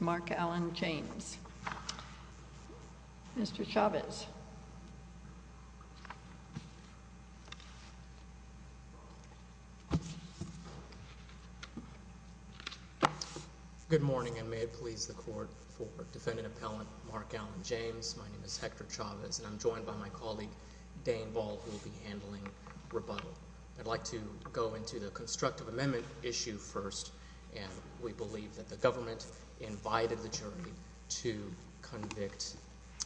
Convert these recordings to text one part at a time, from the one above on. Mark Allen James. Mr. Chavez. Good morning and may it please the court for defendant appellant Mark Allen James. My name is Hector Chavez and I'm joined by my colleague, Dane Ball, who will be handling rebuttal. I'd like to go into the constructive amendment issue first, and we believe that the government invited the jury to convict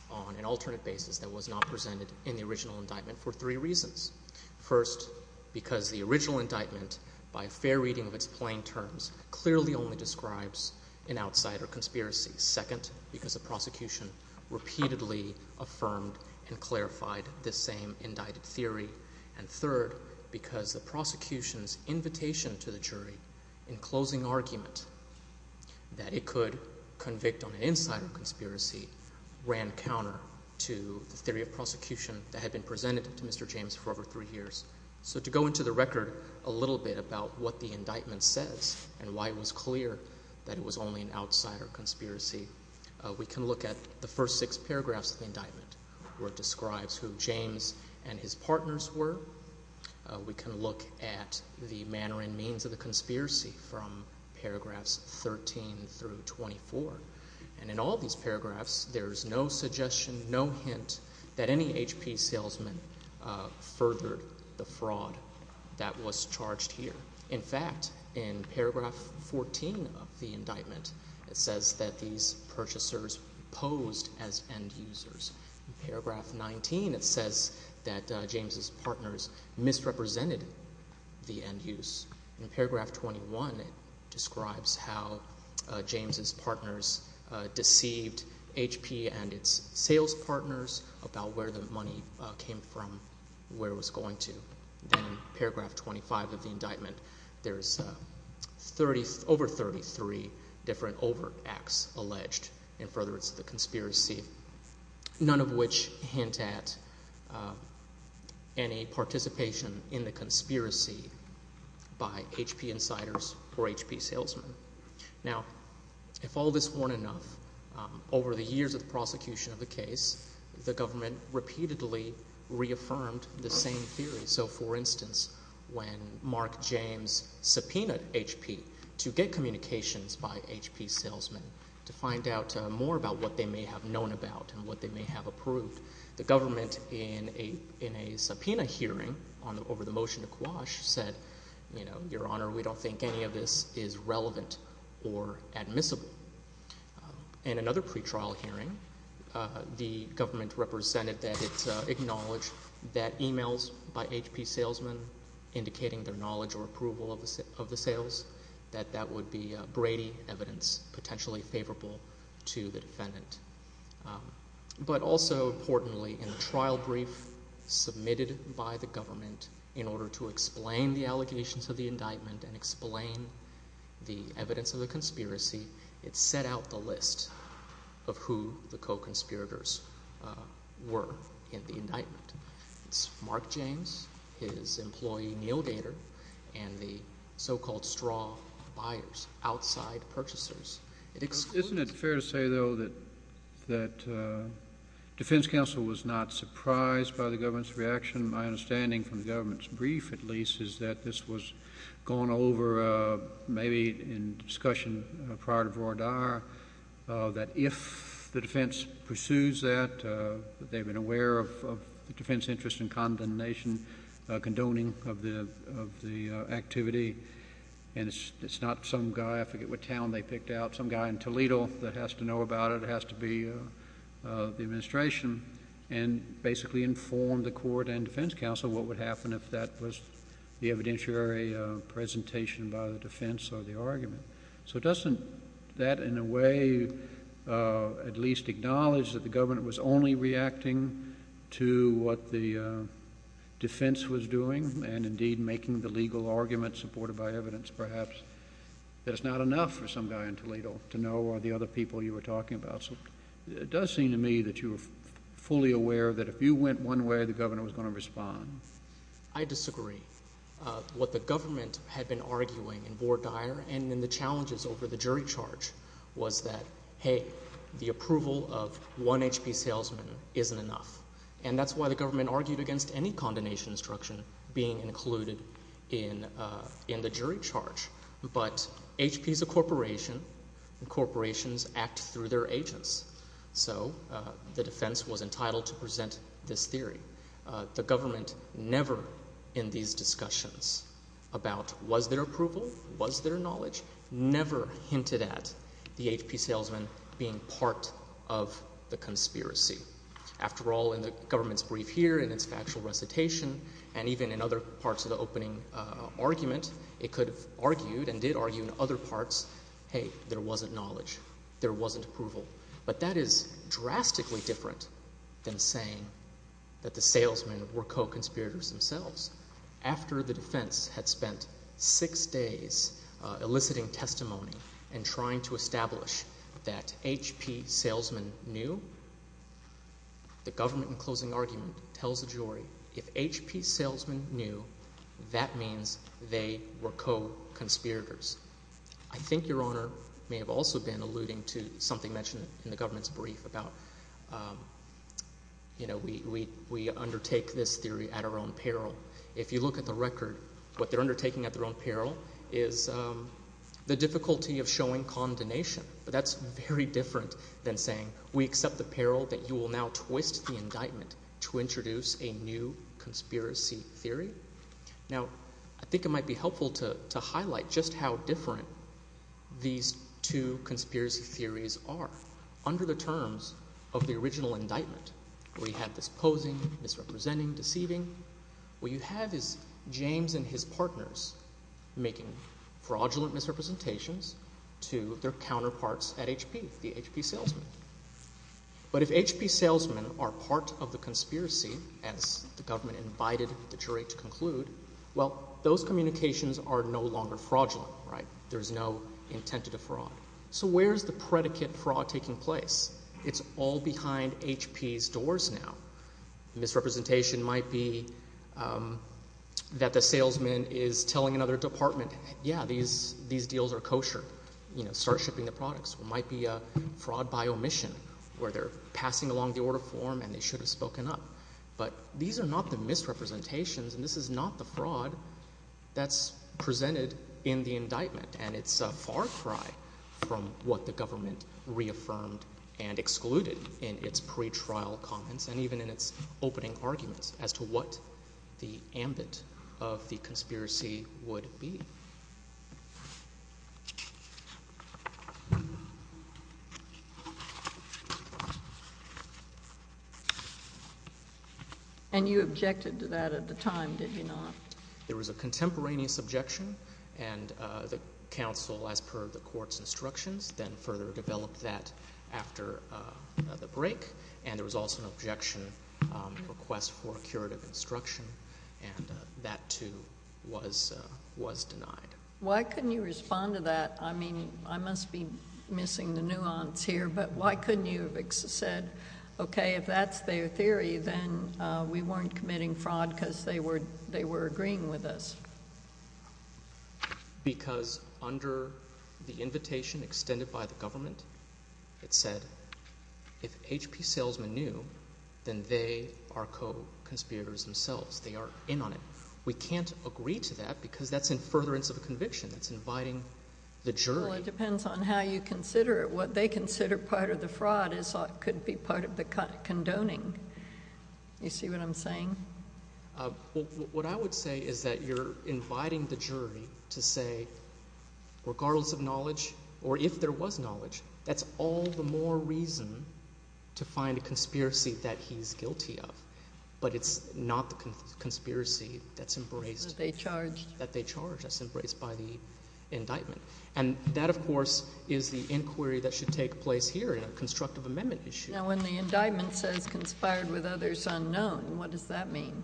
on an alternate basis that was not presented in the original indictment for three reasons. First, because the original indictment, by fair reading of its plain terms, clearly only describes an outsider conspiracy. Second, because the prosecution repeatedly affirmed and clarified this same indicted theory. And third, because the prosecution's invitation to the jury, in closing argument, that it could convict on an insider conspiracy ran counter to the theory of prosecution that had been presented to Mr. James for over three years. So to go into the record a little bit about what the indictment says and why it was clear that it was only an outsider conspiracy, we can look at the first six paragraphs of the indictment, where it describes who James and his partner were. We can look at the manner and means of the conspiracy from paragraphs 13 through 24. And in all these paragraphs, there's no suggestion, no hint that any HP salesman furthered the fraud that was charged here. In fact, in paragraph 14 of the indictment, it says that these purchasers posed as end use, misrepresented the end use. In paragraph 21, it describes how James's partners deceived HP and its sales partners about where the money came from, where it was going to. Then in paragraph 25 of the indictment, there's over 33 different overt acts alleged in furtherance of the conspiracy, none of which hint at any participation in the conspiracy by HP insiders or HP salesmen. Now, if all this weren't enough, over the years of the prosecution of the case, the government repeatedly reaffirmed the same theory. So for instance, when Mark James subpoenaed HP to get communications by HP salesmen to find out more about what they may have known about and what they may have approved, the government in a subpoena hearing over the motion to quash said, you know, your honor, we don't think any of this is relevant or admissible. In another pretrial hearing, the government represented that it acknowledged that emails by HP salesmen indicating their knowledge or approval of the sales, that that would be Brady evidence potentially favorable to the defendant. But also importantly, in the trial brief submitted by the government in order to explain the allegations of the indictment and explain the evidence of the conspiracy, it set out the list of who the co-conspirators were in the indictment. It's Mark James, his employee Neal Dater, and the so-called straw buyers, outside purchasers. Isn't it fair to say, though, that that defense counsel was not surprised by the government's reaction? My understanding from the government's brief, at least, is that this was gone over maybe in discussion prior to Vroidar, that if the defense pursues that, that they've been aware of the defense interest in the activity, and it's not some guy, I forget what town they picked out, some guy in Toledo that has to know about it, has to be the administration, and basically informed the court and defense counsel what would happen if that was the evidentiary presentation by the defense or the argument. So doesn't that, in a way, at least acknowledge that the government was only reacting to what the Well, I think it's fair to say that the government was, indeed, making the legal argument, supported by evidence, perhaps, that it's not enough for some guy in Toledo to know who are the other people you were talking about. So it does seem to me that you were fully aware that if you went one way, the governor was going to respond. I disagree. What the government had been arguing in Vroidar and in the challenges over the jury charge was that, hey, the approval of one HP salesman isn't enough. And that's why the government argued against any condemnation instruction being included in the jury charge. But HP's a corporation, and corporations act through their agents. So the defense was entitled to present this theory. The government never, in these discussions about was there approval, was there knowledge, never hinted at the HP salesman being part of the conspiracy. After all, in the government's brief here, in its factual recitation, and even in other parts of the opening argument, it could have argued and did argue in other parts, hey, there wasn't knowledge. There wasn't approval. But that is drastically different than saying that the salesmen were co-conspirators themselves. After the defense had spent six days eliciting testimony and trying to establish that HP salesmen knew, the government in closing argument tells the jury, if HP salesmen knew, that means they were co-conspirators. I think Your Honor may have also been alluding to something mentioned in the government's brief about, you know, we undertake this theory at our own peril. If you look at the record, what they're undertaking at their own peril is the difficulty of showing condemnation. But that's very different than saying we accept the peril that you will now twist the indictment to introduce a new conspiracy theory. Now, I think it might be helpful to highlight just how different these two conspiracy theories are. Under the terms of the original indictment, where you had this posing, misrepresenting, deceiving, what you have is James and his partners making fraudulent misrepresentations to their counterparts at HP, the HP salesmen. But if HP salesmen are part of the conspiracy, as the government invited the jury to conclude, well, those communications are no longer fraudulent, right? There's no intent to defraud. So where's the predicate fraud taking place? It's all behind HP's doors now. Misrepresentation might be that the salesman is telling another department, yeah, these deals are kosher. You know, start shipping the products. It might be a fraud by omission where they're passing along the order form and they should have spoken up. But these are not the misrepresentations and this is not the misrepresentation. It's a misrepresentation of what was presented in the indictment and it's a far cry from what the government reaffirmed and excluded in its pre-trial comments and even in its opening arguments as to what the ambit of the conspiracy would be. And you objected to that at the time, did you not? There was a contemporaneous objection and the counsel, as per the court's instructions, then further developed that after the break and there was also an objection request for a curative instruction and that, too, was denied. Why couldn't you respond to that? I mean, I must be missing the nuance here, but why couldn't you have said, okay, if that's their theory, then we weren't agreeing with us? Because under the invitation extended by the government, it said if HP salesmen knew, then they are co-conspirators themselves. They are in on it. We can't agree to that because that's in furtherance of a conviction. It's inviting the jury. Well, it depends on how you consider it. What they consider part of the fraud is what could be part of the condoning. You see what I'm saying? What I would say is that you're inviting the jury to say, regardless of knowledge or if there was knowledge, that's all the more reason to find a conspiracy that he's guilty of. But it's not the conspiracy that's embraced. That they charged. That they charged. That's embraced by the indictment. And that, of course, is the inquiry that should take place here in a constructive amendment issue. Now, when the indictment says conspired with others unknown, what does that mean?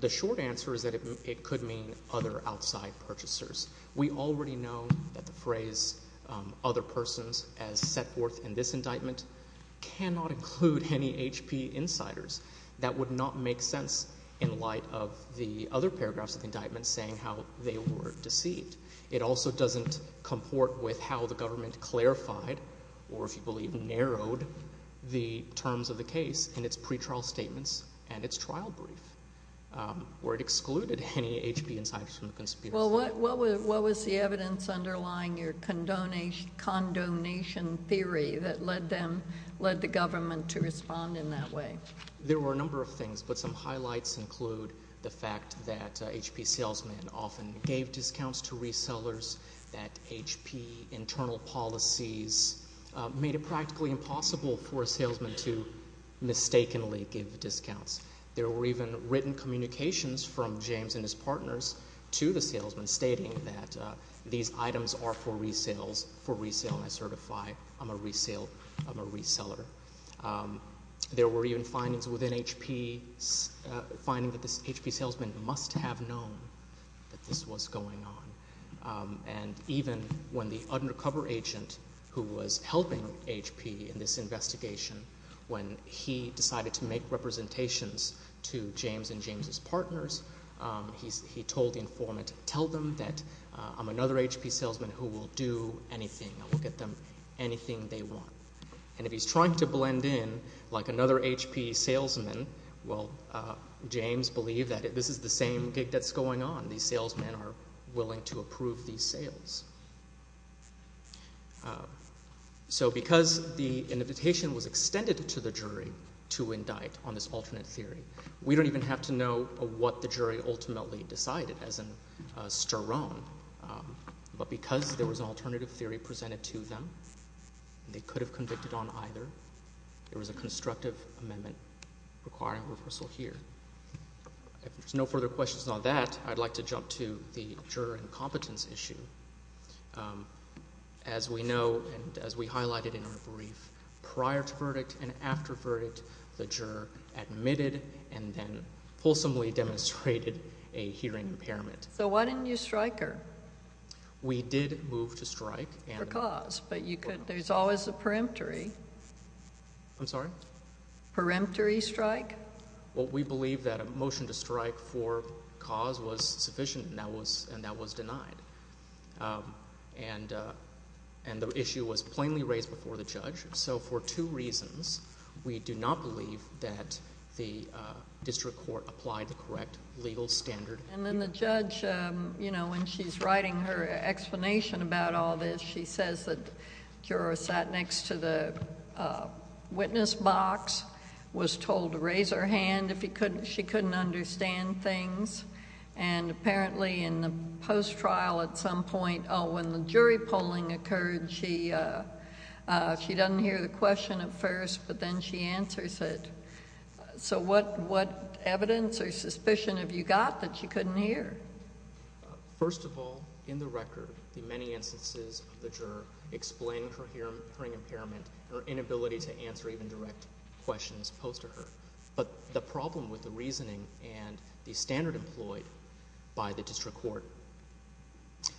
The short answer is that it could mean other outside purchasers. We already know that the phrase other persons as set forth in this indictment cannot include any HP insiders. That would not make sense in light of the other paragraphs of the indictment saying how they were deceived. It also doesn't comport with how the government clarified or, if you believe, narrowed the terms of the case in its pretrial statements and its trial brief where it excluded any HP insiders from the conspiracy. Well, what was the evidence underlying your condonation theory that led them, led the government to respond in that way? There were a number of things, but some highlights include the fact that HP salesmen often gave discounts to resellers, that HP internal policies made it practically impossible for a salesman to mistakenly give discounts. There were even written communications from James and his partners to the salesman stating that these items are for resale and I certify I'm a reseller. There were even articles within HP finding that this HP salesman must have known that this was going on. And even when the undercover agent who was helping HP in this investigation, when he decided to make representations to James and James's partners, he told the informant, tell them that I'm another HP salesman who will do anything. I will get them anything they want. And if he's trying to blend in like another HP salesman, well, James believed that this is the same gig that's going on. These salesmen are willing to approve these sales. So because the invitation was extended to the jury to indict on this alternate theory, we don't even have to know what the jury ultimately decided as an sterone. But because there was an alternative theory presented to them, they could have convicted on either. There was a constructive amendment requiring a reversal here. If there's no further questions on that, I'd like to jump to the juror incompetence issue. As we know and as we highlighted in our brief, prior to verdict and after verdict, the juror admitted and then fulsomely demonstrated a hearing impairment. So why didn't you strike her? We did move to strike. Because. But I'm sorry? Peremptory strike? Well, we believe that a motion to strike for cause was sufficient and that was denied. And the issue was plainly raised before the judge. So for two reasons, we do not believe that the district court applied the correct legal standard. And then the judge, you know, when she's writing her witness box, was told to raise her hand if he couldn't. She couldn't understand things. And apparently in the post trial at some point when the jury polling occurred, she she doesn't hear the question at first, but then she answers it. So what? What evidence or suspicion have you got that you couldn't hear? First of all, in the record, the many instances of the juror explained her hearing impairment or inability to answer even direct questions posed to her. But the problem with the reasoning and the standard employed by the district court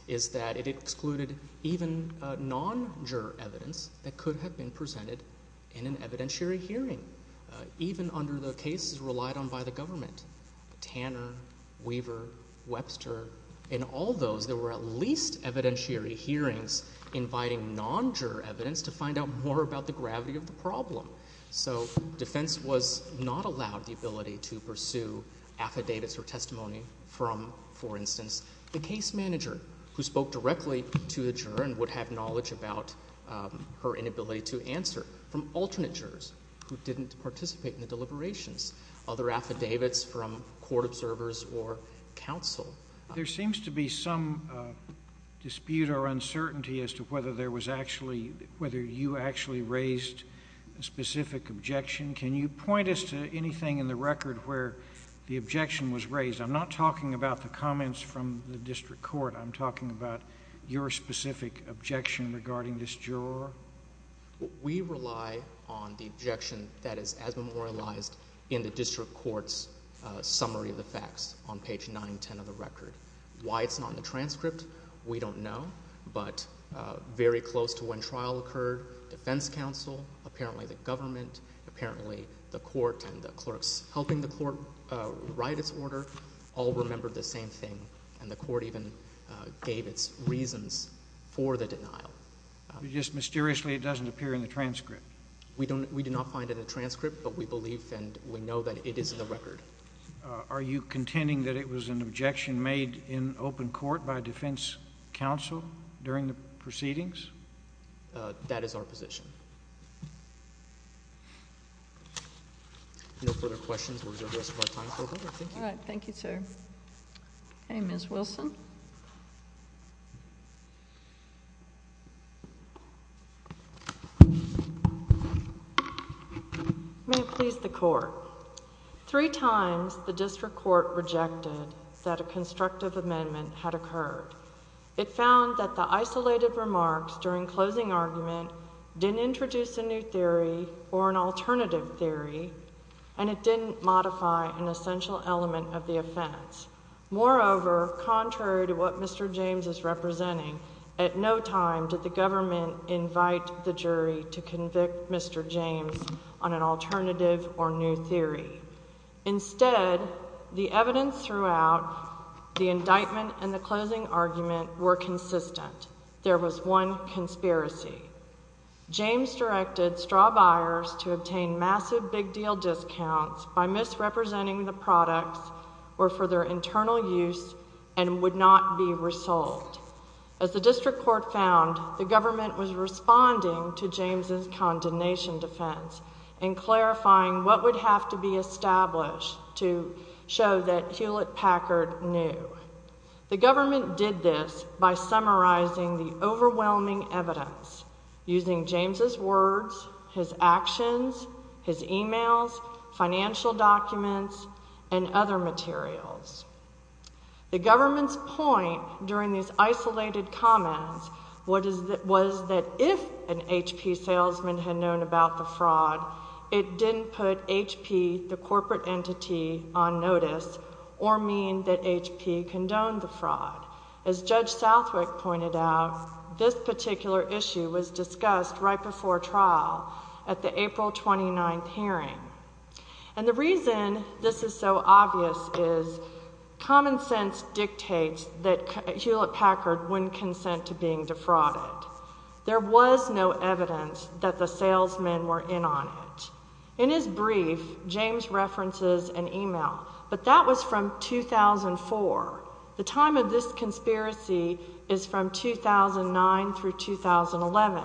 is that it excluded even non-juror evidence that could have been presented in an evidentiary hearing, even under the cases relied on by the government. Tanner, Weaver, Webster, in all those, there were at least to find out more about the gravity of the problem. So defense was not allowed the ability to pursue affidavits or testimony from, for instance, the case manager who spoke directly to the juror and would have knowledge about her inability to answer from alternate jurors who didn't participate in the deliberations. Other affidavits from court observers or counsel. There seems to be some dispute or uncertainty as to whether there was actually whether you actually raised a specific objection. Can you point us to anything in the record where the objection was raised? I'm not talking about the comments from the district court. I'm talking about your specific objection regarding this juror. We rely on the objection that is as memorialized in the transcript. We don't know. But very close to when trial occurred, defense counsel, apparently the government, apparently the court and the clerks helping the court write its order all remember the same thing. And the court even gave its reasons for the denial. Just mysteriously, it doesn't appear in the transcript. We do not find it a transcript, but we believe and we know that it is in the record. Are you contending that it was an objection made in open court by defense counsel during the proceedings? That is our position. No further questions. We'll reserve the rest of our time for that. Thank you. All right. Thank you, sir. Okay, Ms. Wilson. May it please the court. Three times the district court rejected that a constructive amendment had occurred. It found that the isolated remarks during closing argument didn't introduce a new theory or an alternative theory, and it didn't modify an essential element of the offense. Moreover, contrary to what Mr James is representing, at no time did the government invite the jury to convict Mr James on an alternative or new theory. Instead, the evidence throughout the indictment and the closing argument were consistent. There was one conspiracy. James directed straw buyers to obtain massive big deal discounts by misrepresenting the products or for their internal use and would not be resolved. As the district court found, the government was responding to James's condemnation defense and clarifying what would have to be established to show that Hewlett Packard knew the government did this by summarizing the overwhelming evidence using James's words, his actions, his emails, financial documents and other materials. The government's point during these isolated comments. What is that? Was that if an HP salesman had known about the fraud, it didn't put HP the corporate entity on notice or mean that HP condoned the fraud. As Judge Southwick pointed out, this particular issue was discussed right before trial at the April 29th hearing. And the reason this is so obvious is common sense dictates that Hewlett Packard wouldn't consent to being defrauded. There was no evidence that the salesmen were in on it. In his brief, James references an email, but that was from 2004. The time of this conspiracy is from 2009 through 2011.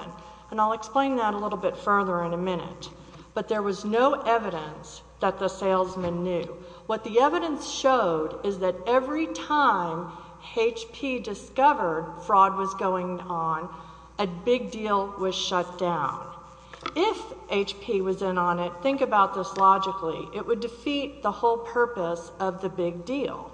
And I'll explain that a little bit further in a minute. But there was no evidence that the salesman knew. What the evidence showed is that every time HP discovered fraud was going on, a big deal was shut down. If HP was in on it, think about this logically. It would defeat the whole purpose of the big deal.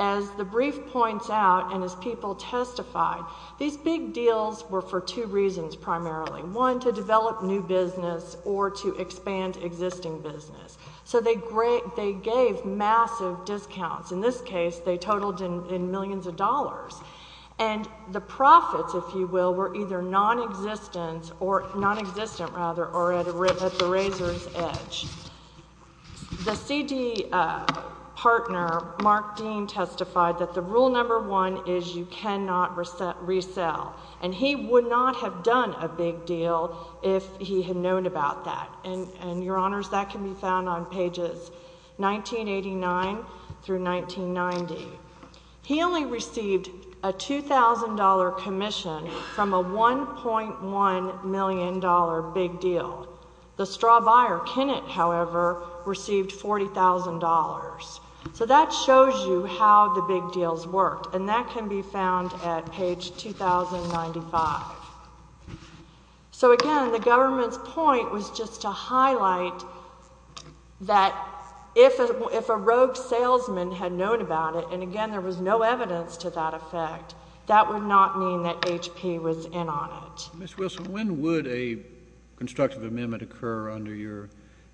As the brief points out, and as people testified, these big deals were for two reasons, primarily. One, to develop new business or to expand existing business. So they gave massive discounts. In this case, they totaled in millions of dollars. And the profits, if you will, were either nonexistent or nonexistent, rather, or at the razor's edge. The CD partner, Mark Dean, testified that the rule number one is you cannot resell. And he would not have done a big deal if he had known about that. And, Your Honors, that can be found on pages 1989 through 1990. He only received a $2,000 commission from a $1.1 million big deal. The straw buyer, Kennett, however, received $40,000. So that shows you how the big deals worked. And that can be found at the CD partner. So, again, the government's point was just to highlight that if a rogue salesman had known about it, and, again, there was no evidence to that effect, that would not mean that H.P. was in on it. Mr. Wilson, when would a constructive amendment occur under your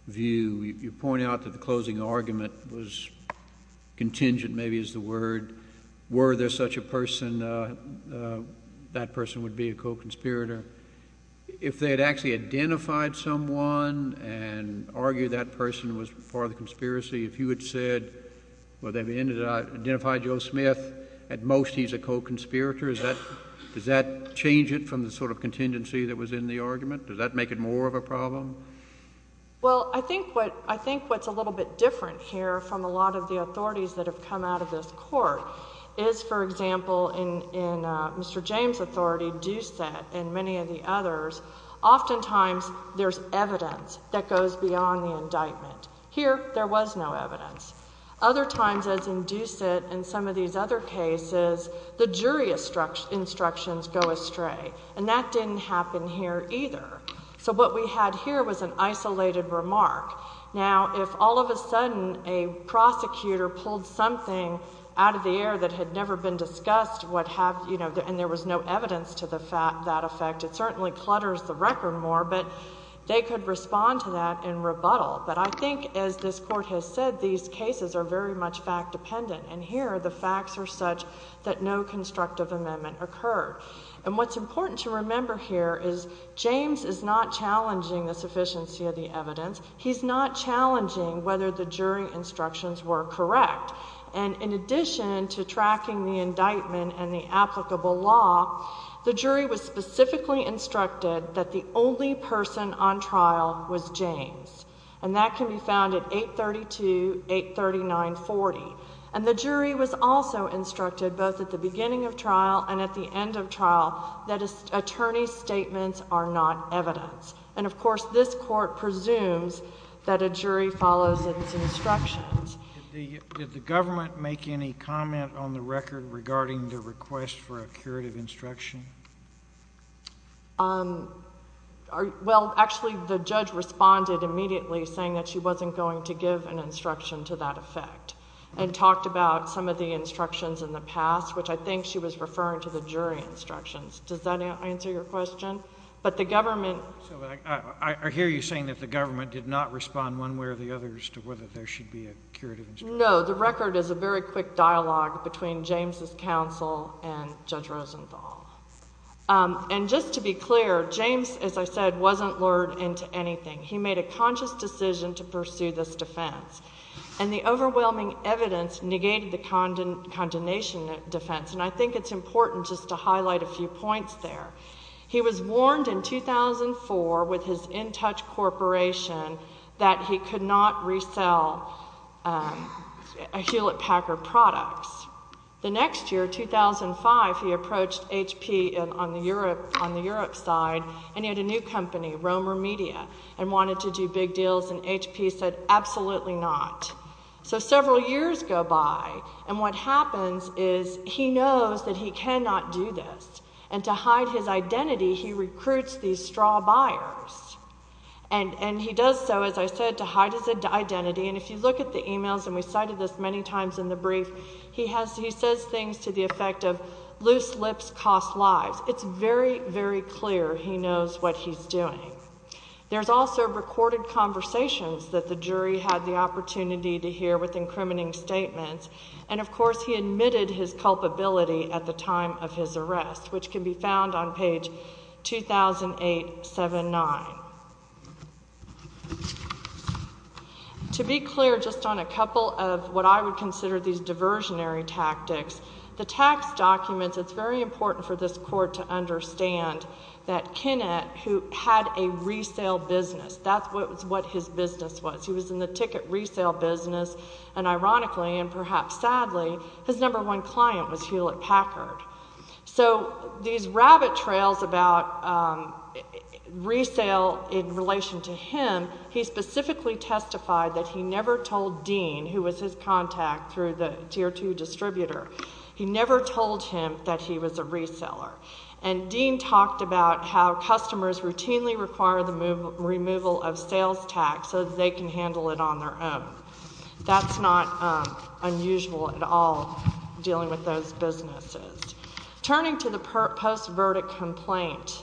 view? You point out that the closing argument was contingent, maybe, is the word. Were there such a person, that person would be a co-conspirator. If they had actually identified someone and argued that person was part of the conspiracy, if you had said, well, they've identified Joe Smith, at most he's a co-conspirator, does that change it from the sort of contingency that was in the argument? Does that make it more of a problem? Well, I think what's a little bit different here from a lot of the authorities that have come out of this court is, for example, in Mr. James' authority, Doucette and many of the others, oftentimes there's evidence that goes beyond the indictment. Here, there was no evidence. Other times, as in Doucette and some of these other cases, the jury instructions go astray. And that didn't happen here either. So what we had here was an argument. A prosecutor pulled something out of the air that had never been discussed, and there was no evidence to that effect. It certainly clutters the record more, but they could respond to that in rebuttal. But I think, as this court has said, these cases are very much fact-dependent. And here, the facts are such that no constructive amendment occurred. And what's important to remember here is, James is not challenging the sufficiency of the evidence. He's not challenging whether the jury instructions were correct. And in addition to tracking the indictment and the applicable law, the jury was specifically instructed that the only person on trial was James. And that can be found at 832-839-40. And the jury was also instructed, both at the beginning of trial and at the end of trial, that an attorney's statements are not evidence. And, of course, this court presumes that a jury follows its instructions. Did the government make any comment on the record regarding the request for a curative instruction? Well, actually, the judge responded immediately, saying that she wasn't going to give an instruction to that effect, and talked about some of the instructions in the past, which I think she was referring to the jury instructions. Does that answer your question? But the government... So I hear you saying that the government did not respond one way or the other as to whether there should be a curative instruction. No. The record is a very quick dialogue between James' counsel and Judge Rosenthal. And just to be clear, James, as I said, wasn't lured into anything. He made a conscious decision to pursue this defense. And the overwhelming evidence negated the condemnation defense. And I think it's important just to highlight a few points there. He was warned in 2004 with his InTouch corporation that he could not resell Hewlett-Packard products. The next year, 2005, he approached HP on the Europe side, and he had a new company, Romer Media, and wanted to do big deals. And HP said, absolutely not. So why would you do this? And to hide his identity, he recruits these straw buyers. And he does so, as I said, to hide his identity. And if you look at the e-mails, and we cited this many times in the brief, he says things to the effect of, loose lips cost lives. It's very, very clear he knows what he's doing. There's also recorded conversations that the jury had the opportunity to hear with incriminating statements. And, of course, he admitted his culpability at the time of his arrest, which can be found on page 200879. To be clear, just on a couple of what I would consider these diversionary tactics, the tax documents, it's very important for this court to understand that Kinnett, who had a resale business, that's what his business was. He was in the ticket resale business, and ironically, and perhaps sadly, his number one client was Hewlett Packard. So these rabbit trails about resale in relation to him, he specifically testified that he never told Dean, who was his contact through the tier two distributor, he never told him that he was a reseller. And Dean talked about how customers routinely require the removal of sales tax so that they can handle it on their own. That's not unusual at all, dealing with those businesses. Turning to the post-verdict complaint,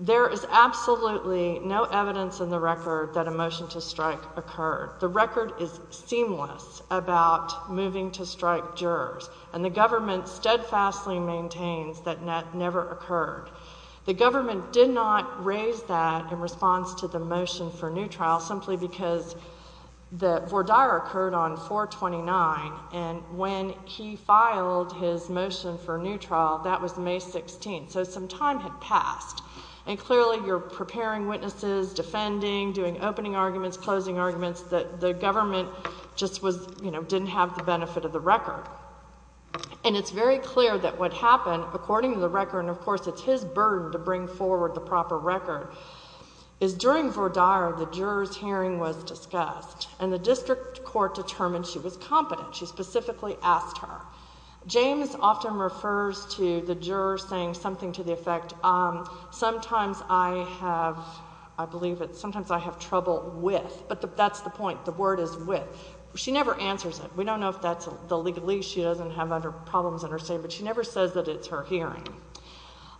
there is absolutely no evidence in the record that a motion to strike occurred. The record is seamless about moving to strike jurors, and the government steadfastly maintains that that never occurred. The government did not raise that in response to the motion for new trial, simply because that Vordire occurred on 4-29, and when he filed his motion for new trial, that was May 16th. So some time had passed, and clearly you're preparing witnesses, defending, doing opening arguments, closing arguments, that the government just was, you know, didn't have the benefit of the record. And it's very clear that what happened, according to the record, and of course, it's his burden to bring forward the proper record, is during Vordire, the juror's hearing was discussed, and the district court determined she was competent. She specifically asked her. James often refers to the juror saying something to the effect, sometimes I have, I believe it, sometimes I have trouble with, but that's the point. The word is with. She never answers it. We don't know if that's the legalese. She doesn't have other problems in her state, but she never says that it's her hearing.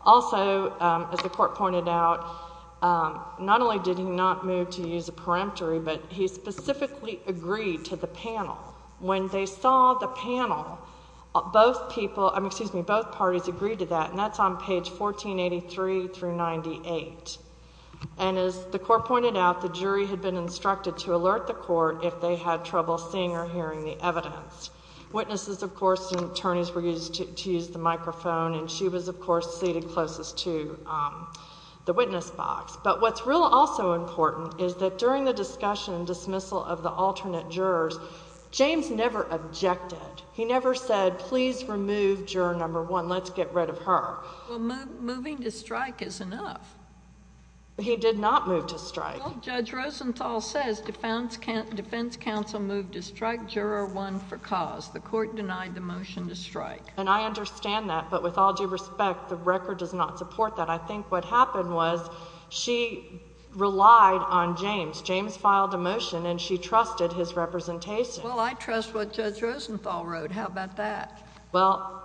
Also, as the court pointed out, not only did he not move to use a peremptory, but he specifically agreed to the panel. When they saw the panel, both parties agreed to that, and that's on page 1483 through 98. And as the court pointed out, the jury had been instructed to alert the court if they had trouble seeing or hearing the evidence. Witnesses, of course, and attorneys were to use the microphone, and she was, of course, seated closest to the witness box. But what's real also important is that during the discussion and dismissal of the alternate jurors, James never objected. He never said, Please remove juror number one. Let's get rid of her. Well, moving to strike is enough. He did not move to strike. Judge Rosenthal says Defense Council moved to strike juror one for cause. The court denied the motion to and I understand that. But with all due respect, the record does not support that. I think what happened was she relied on James. James filed a motion, and she trusted his representation. Well, I trust what Judge Rosenthal wrote. How about that? Well,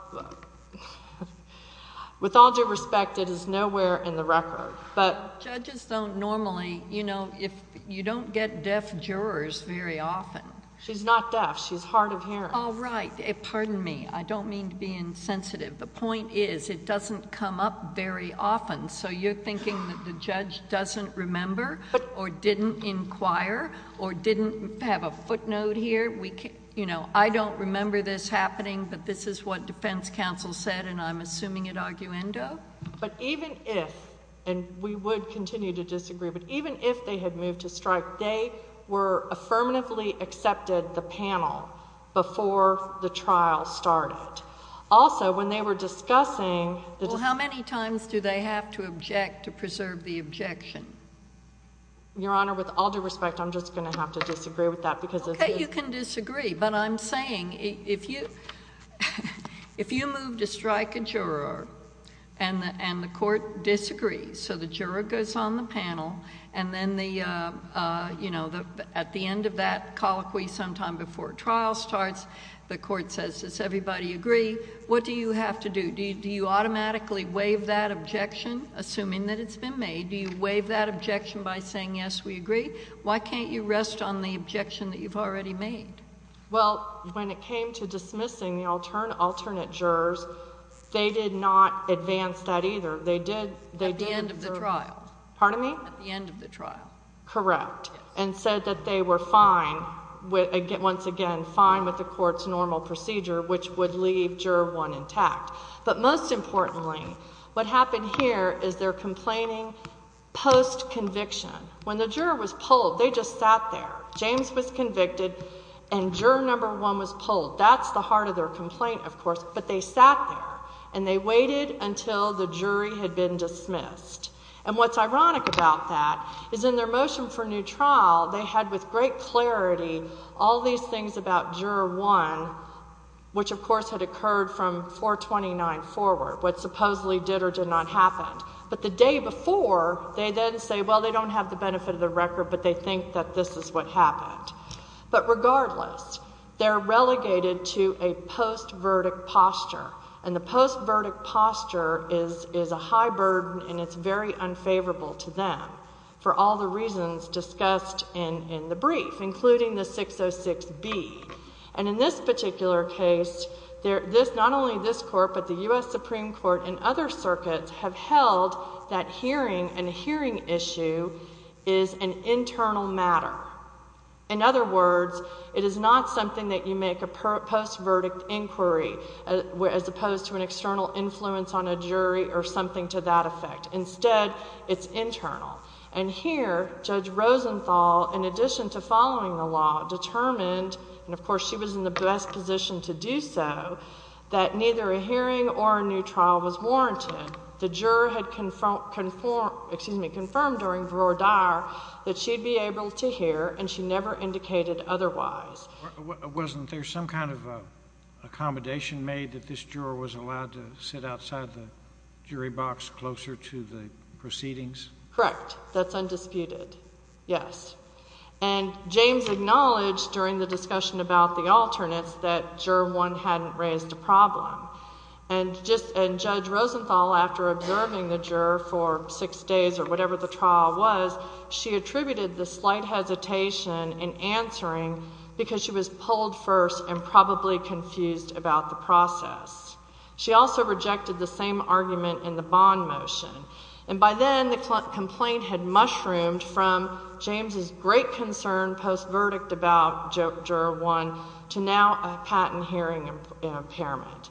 with all due respect, it is nowhere in the record. But judges don't normally, you know, if you don't get deaf jurors very often, she's not deaf. She's hard of hearing. Oh, right. Pardon me. I don't mean to be insensitive. The point is it doesn't come up very often. So you're thinking that the judge doesn't remember or didn't inquire or didn't have a footnote here. You know, I don't remember this happening, but this is what Defense Council said, and I'm assuming it arguendo. But even if, and we would continue to disagree, but even if they had moved to strike, they were affirmatively accepted the panel before the trial started. Also, when they were discussing, how many times do they have to object to preserve the objection? Your Honor, with all due respect, I'm just gonna have to disagree with that because you can disagree. But I'm saying if you if you move to strike a juror and and the court disagrees so the juror goes on the panel and then the you know, at the end of that colloquy sometime before trial starts, the court says, Does everybody agree? What do you have to do? Do you automatically waive that objection? Assuming that it's been made, do you waive that objection by saying, Yes, we agree. Why can't you rest on the objection that you've already made? Well, when it came to dismissing the alternate jurors, they did not advance that either. They did at the end of the trial. Pardon me? At the end of the trial. Correct. And said that they were fine with once again, fine with the court's normal procedure, which would leave juror one intact. But most importantly, what happened here is they're complaining post conviction. When the juror was pulled, they just sat there. James was convicted and juror number one was pulled. That's the heart of their complaint, of course. But they sat there and they waited until the jury had been dismissed. And what's ironic about that is in their motion for new trial, they had with great clarity all these things about juror one, which, of course, had occurred from 4 29 forward, what supposedly did or did not happen. But the day before, they then say, Well, they don't have the benefit of the record, but they think that this is what happened. But regardless, they're relegated to a post verdict posture, and the post verdict posture is is a high burden, and it's very unfavorable to them for all the reasons discussed in in the brief, including the 606 B. And in this particular case, there this not only this court, but the U. S. Supreme Court and other circuits have held that hearing and hearing issue is an internal matter. In other words, it is not something that you make a post verdict inquiry as opposed to an external influence on a jury or something to that And here, Judge Rosenthal, in addition to following the law, determined, and, of course, she was in the best position to do so, that neither a hearing or a new trial was warranted. The juror had confirmed, confirmed, excuse me, confirmed during broad are that she'd be able to hear, and she never indicated otherwise. Wasn't there some kind of accommodation made that this juror was outside the jury box closer to the proceedings? Correct. That's undisputed. Yes. And James acknowledged during the discussion about the alternates that juror one hadn't raised a problem. And just and Judge Rosenthal, after observing the juror for six days or whatever the trial was, she attributed the slight hesitation in answering because she was pulled first and probably confused about the process. She also rejected the same argument in the bond motion. And by then, the complaint had mushroomed from James's great concern post verdict about juror one to now a patent hearing impairment.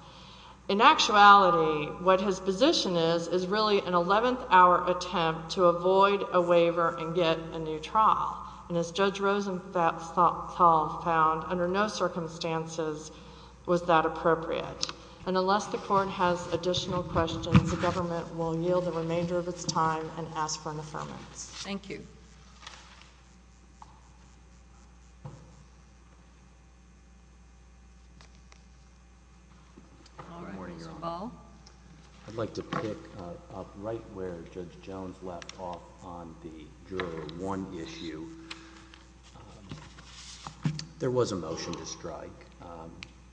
In actuality, what his position is, is really an 11th hour attempt to avoid a waiver and get a new trial. And as Judge Rosenthal found, under no circumstances was that appropriate. And unless the court has additional questions, the government will yield the remainder of its time and ask for an affirmative. Thank you. All right, Mr Ball. I'd like to pick up right where Judge Jones left off on the juror one issue. There was a motion to strike.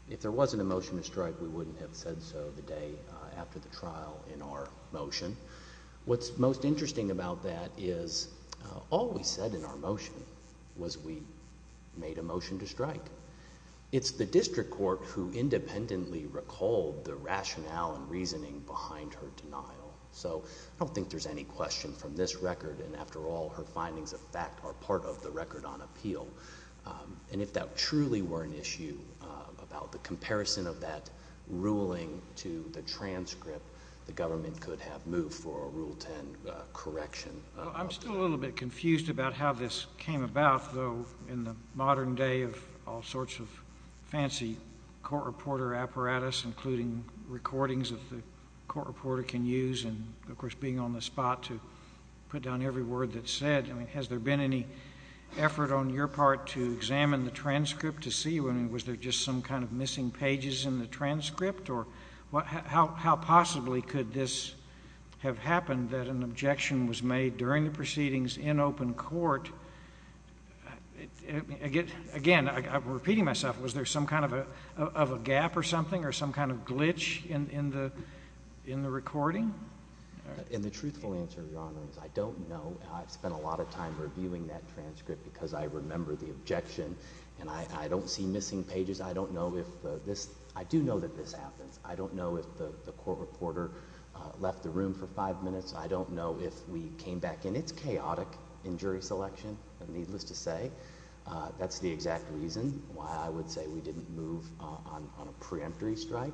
If there wasn't a motion to strike, we wouldn't have said so the day after the trial in our motion. What's most interesting about that is all we said in our motion was we made a motion to strike. It's the district court who independently recalled the rationale and reasoning behind her denial. So I don't think there's any question from this record. And after all, her findings of fact are part of the record on appeal. And if that truly were an issue about the comparison of that ruling to the transcript, the government could have moved for a rule 10 correction. I'm still a little bit confused about how this came about, though, in the modern day of all sorts of fancy court reporter apparatus, including recordings of the court reporter can use and, of course, being on the spot to put down every word that's said. I mean, has there been any effort on your part to examine the transcript to see, I mean, was there just some kind of missing pages in the transcript? Or how possibly could this have happened that an objection was made during the proceedings in open court? Again, I'm repeating myself. Was there some kind of a gap or something or some kind of glitch in the recording? And the truthful answer, Your Honor, is I don't know. I've spent a lot of time reviewing that transcript because I remember the objection. And I don't see missing pages. I don't know if this, I do know that this happens. I don't know if the court reporter left the room for five minutes. I don't know if we came back in. It's chaotic in jury selection, needless to say. That's the exact reason why I would say we didn't move on a preemptory strike.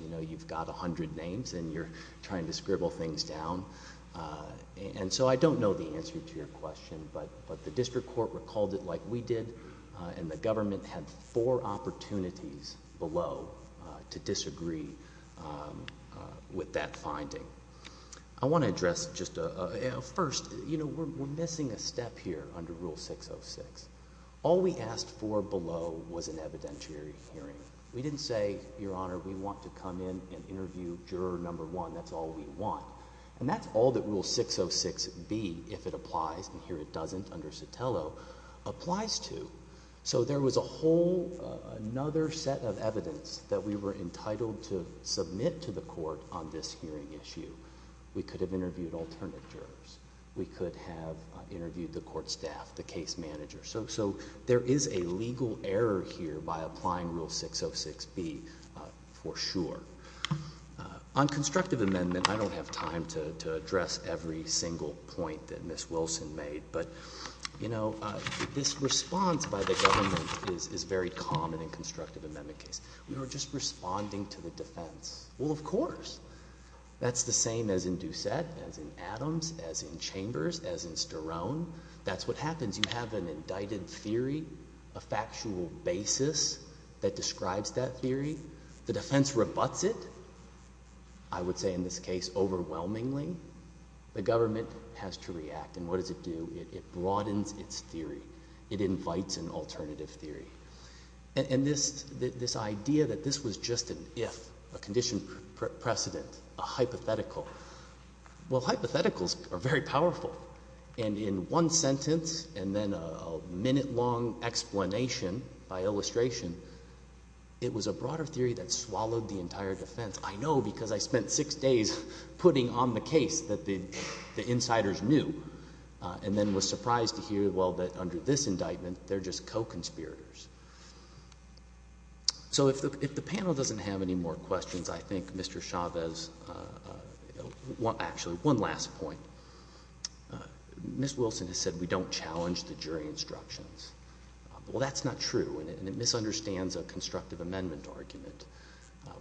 You know, you've got a trying to scribble things down. Uh, and so I don't know the answer to your question, but the district court recalled it like we did on the government had four opportunities below to disagree. Um, with that finding, I want to address just a first. You know, we're missing a step here under Rule 606. All we asked for below was an evidentiary hearing. We didn't say, Your interview juror number one. That's all we want. And that's all that will 606 be if it applies. And here it doesn't under Sotelo applies to. So there was a whole another set of evidence that we were entitled to submit to the court on this hearing issue. We could have interviewed alternative jurors. We could have interviewed the court staff, the case manager. So so there is a on constructive amendment. I don't have time to address every single point that Miss Wilson made. But, you know, this response by the government is very common in constructive amendment case. We were just responding to the defense. Well, of course, that's the same as in Doucette, as in Adams, as in Chambers, as in Sterling. That's what happens. You have an indicted theory, a factual basis that describes that theory. The defense rebuts it, I would say, in this case, overwhelmingly, the government has to react. And what does it do? It broadens its theory. It invites an alternative theory. And this this idea that this was just an if a condition precedent, a hypothetical. Well, hypotheticals are very powerful. And in one sentence and then a minute long explanation by illustration, it was a broader theory that swallowed the entire defense. I know because I spent six days putting on the case that the insiders knew and then was surprised to hear. Well, that under this indictment, they're just co conspirators. So if the panel doesn't have any more questions, I think Mr Chavez, uh, actually one last point. Miss Wilson has said we don't challenge the jury instructions. Well, that's not true, and it misunderstands a constructive amendment argument.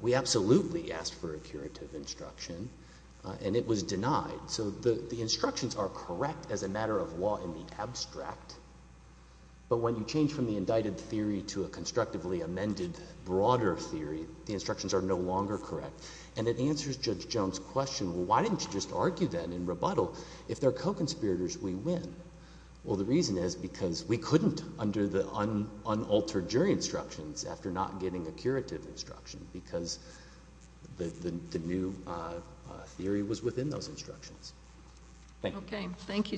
We absolutely asked for a curative instruction, and it was denied. So the instructions are correct as a matter of law in the abstract. But when you change from the indicted theory to a constructively amended broader theory, the instructions are no longer correct. And it answers Judge Jones question. Why didn't you just argue that in rebuttal? If they're co the unaltered jury instructions after not getting a curative instruction because the new theory was within those instructions. Okay. Thank you, sir.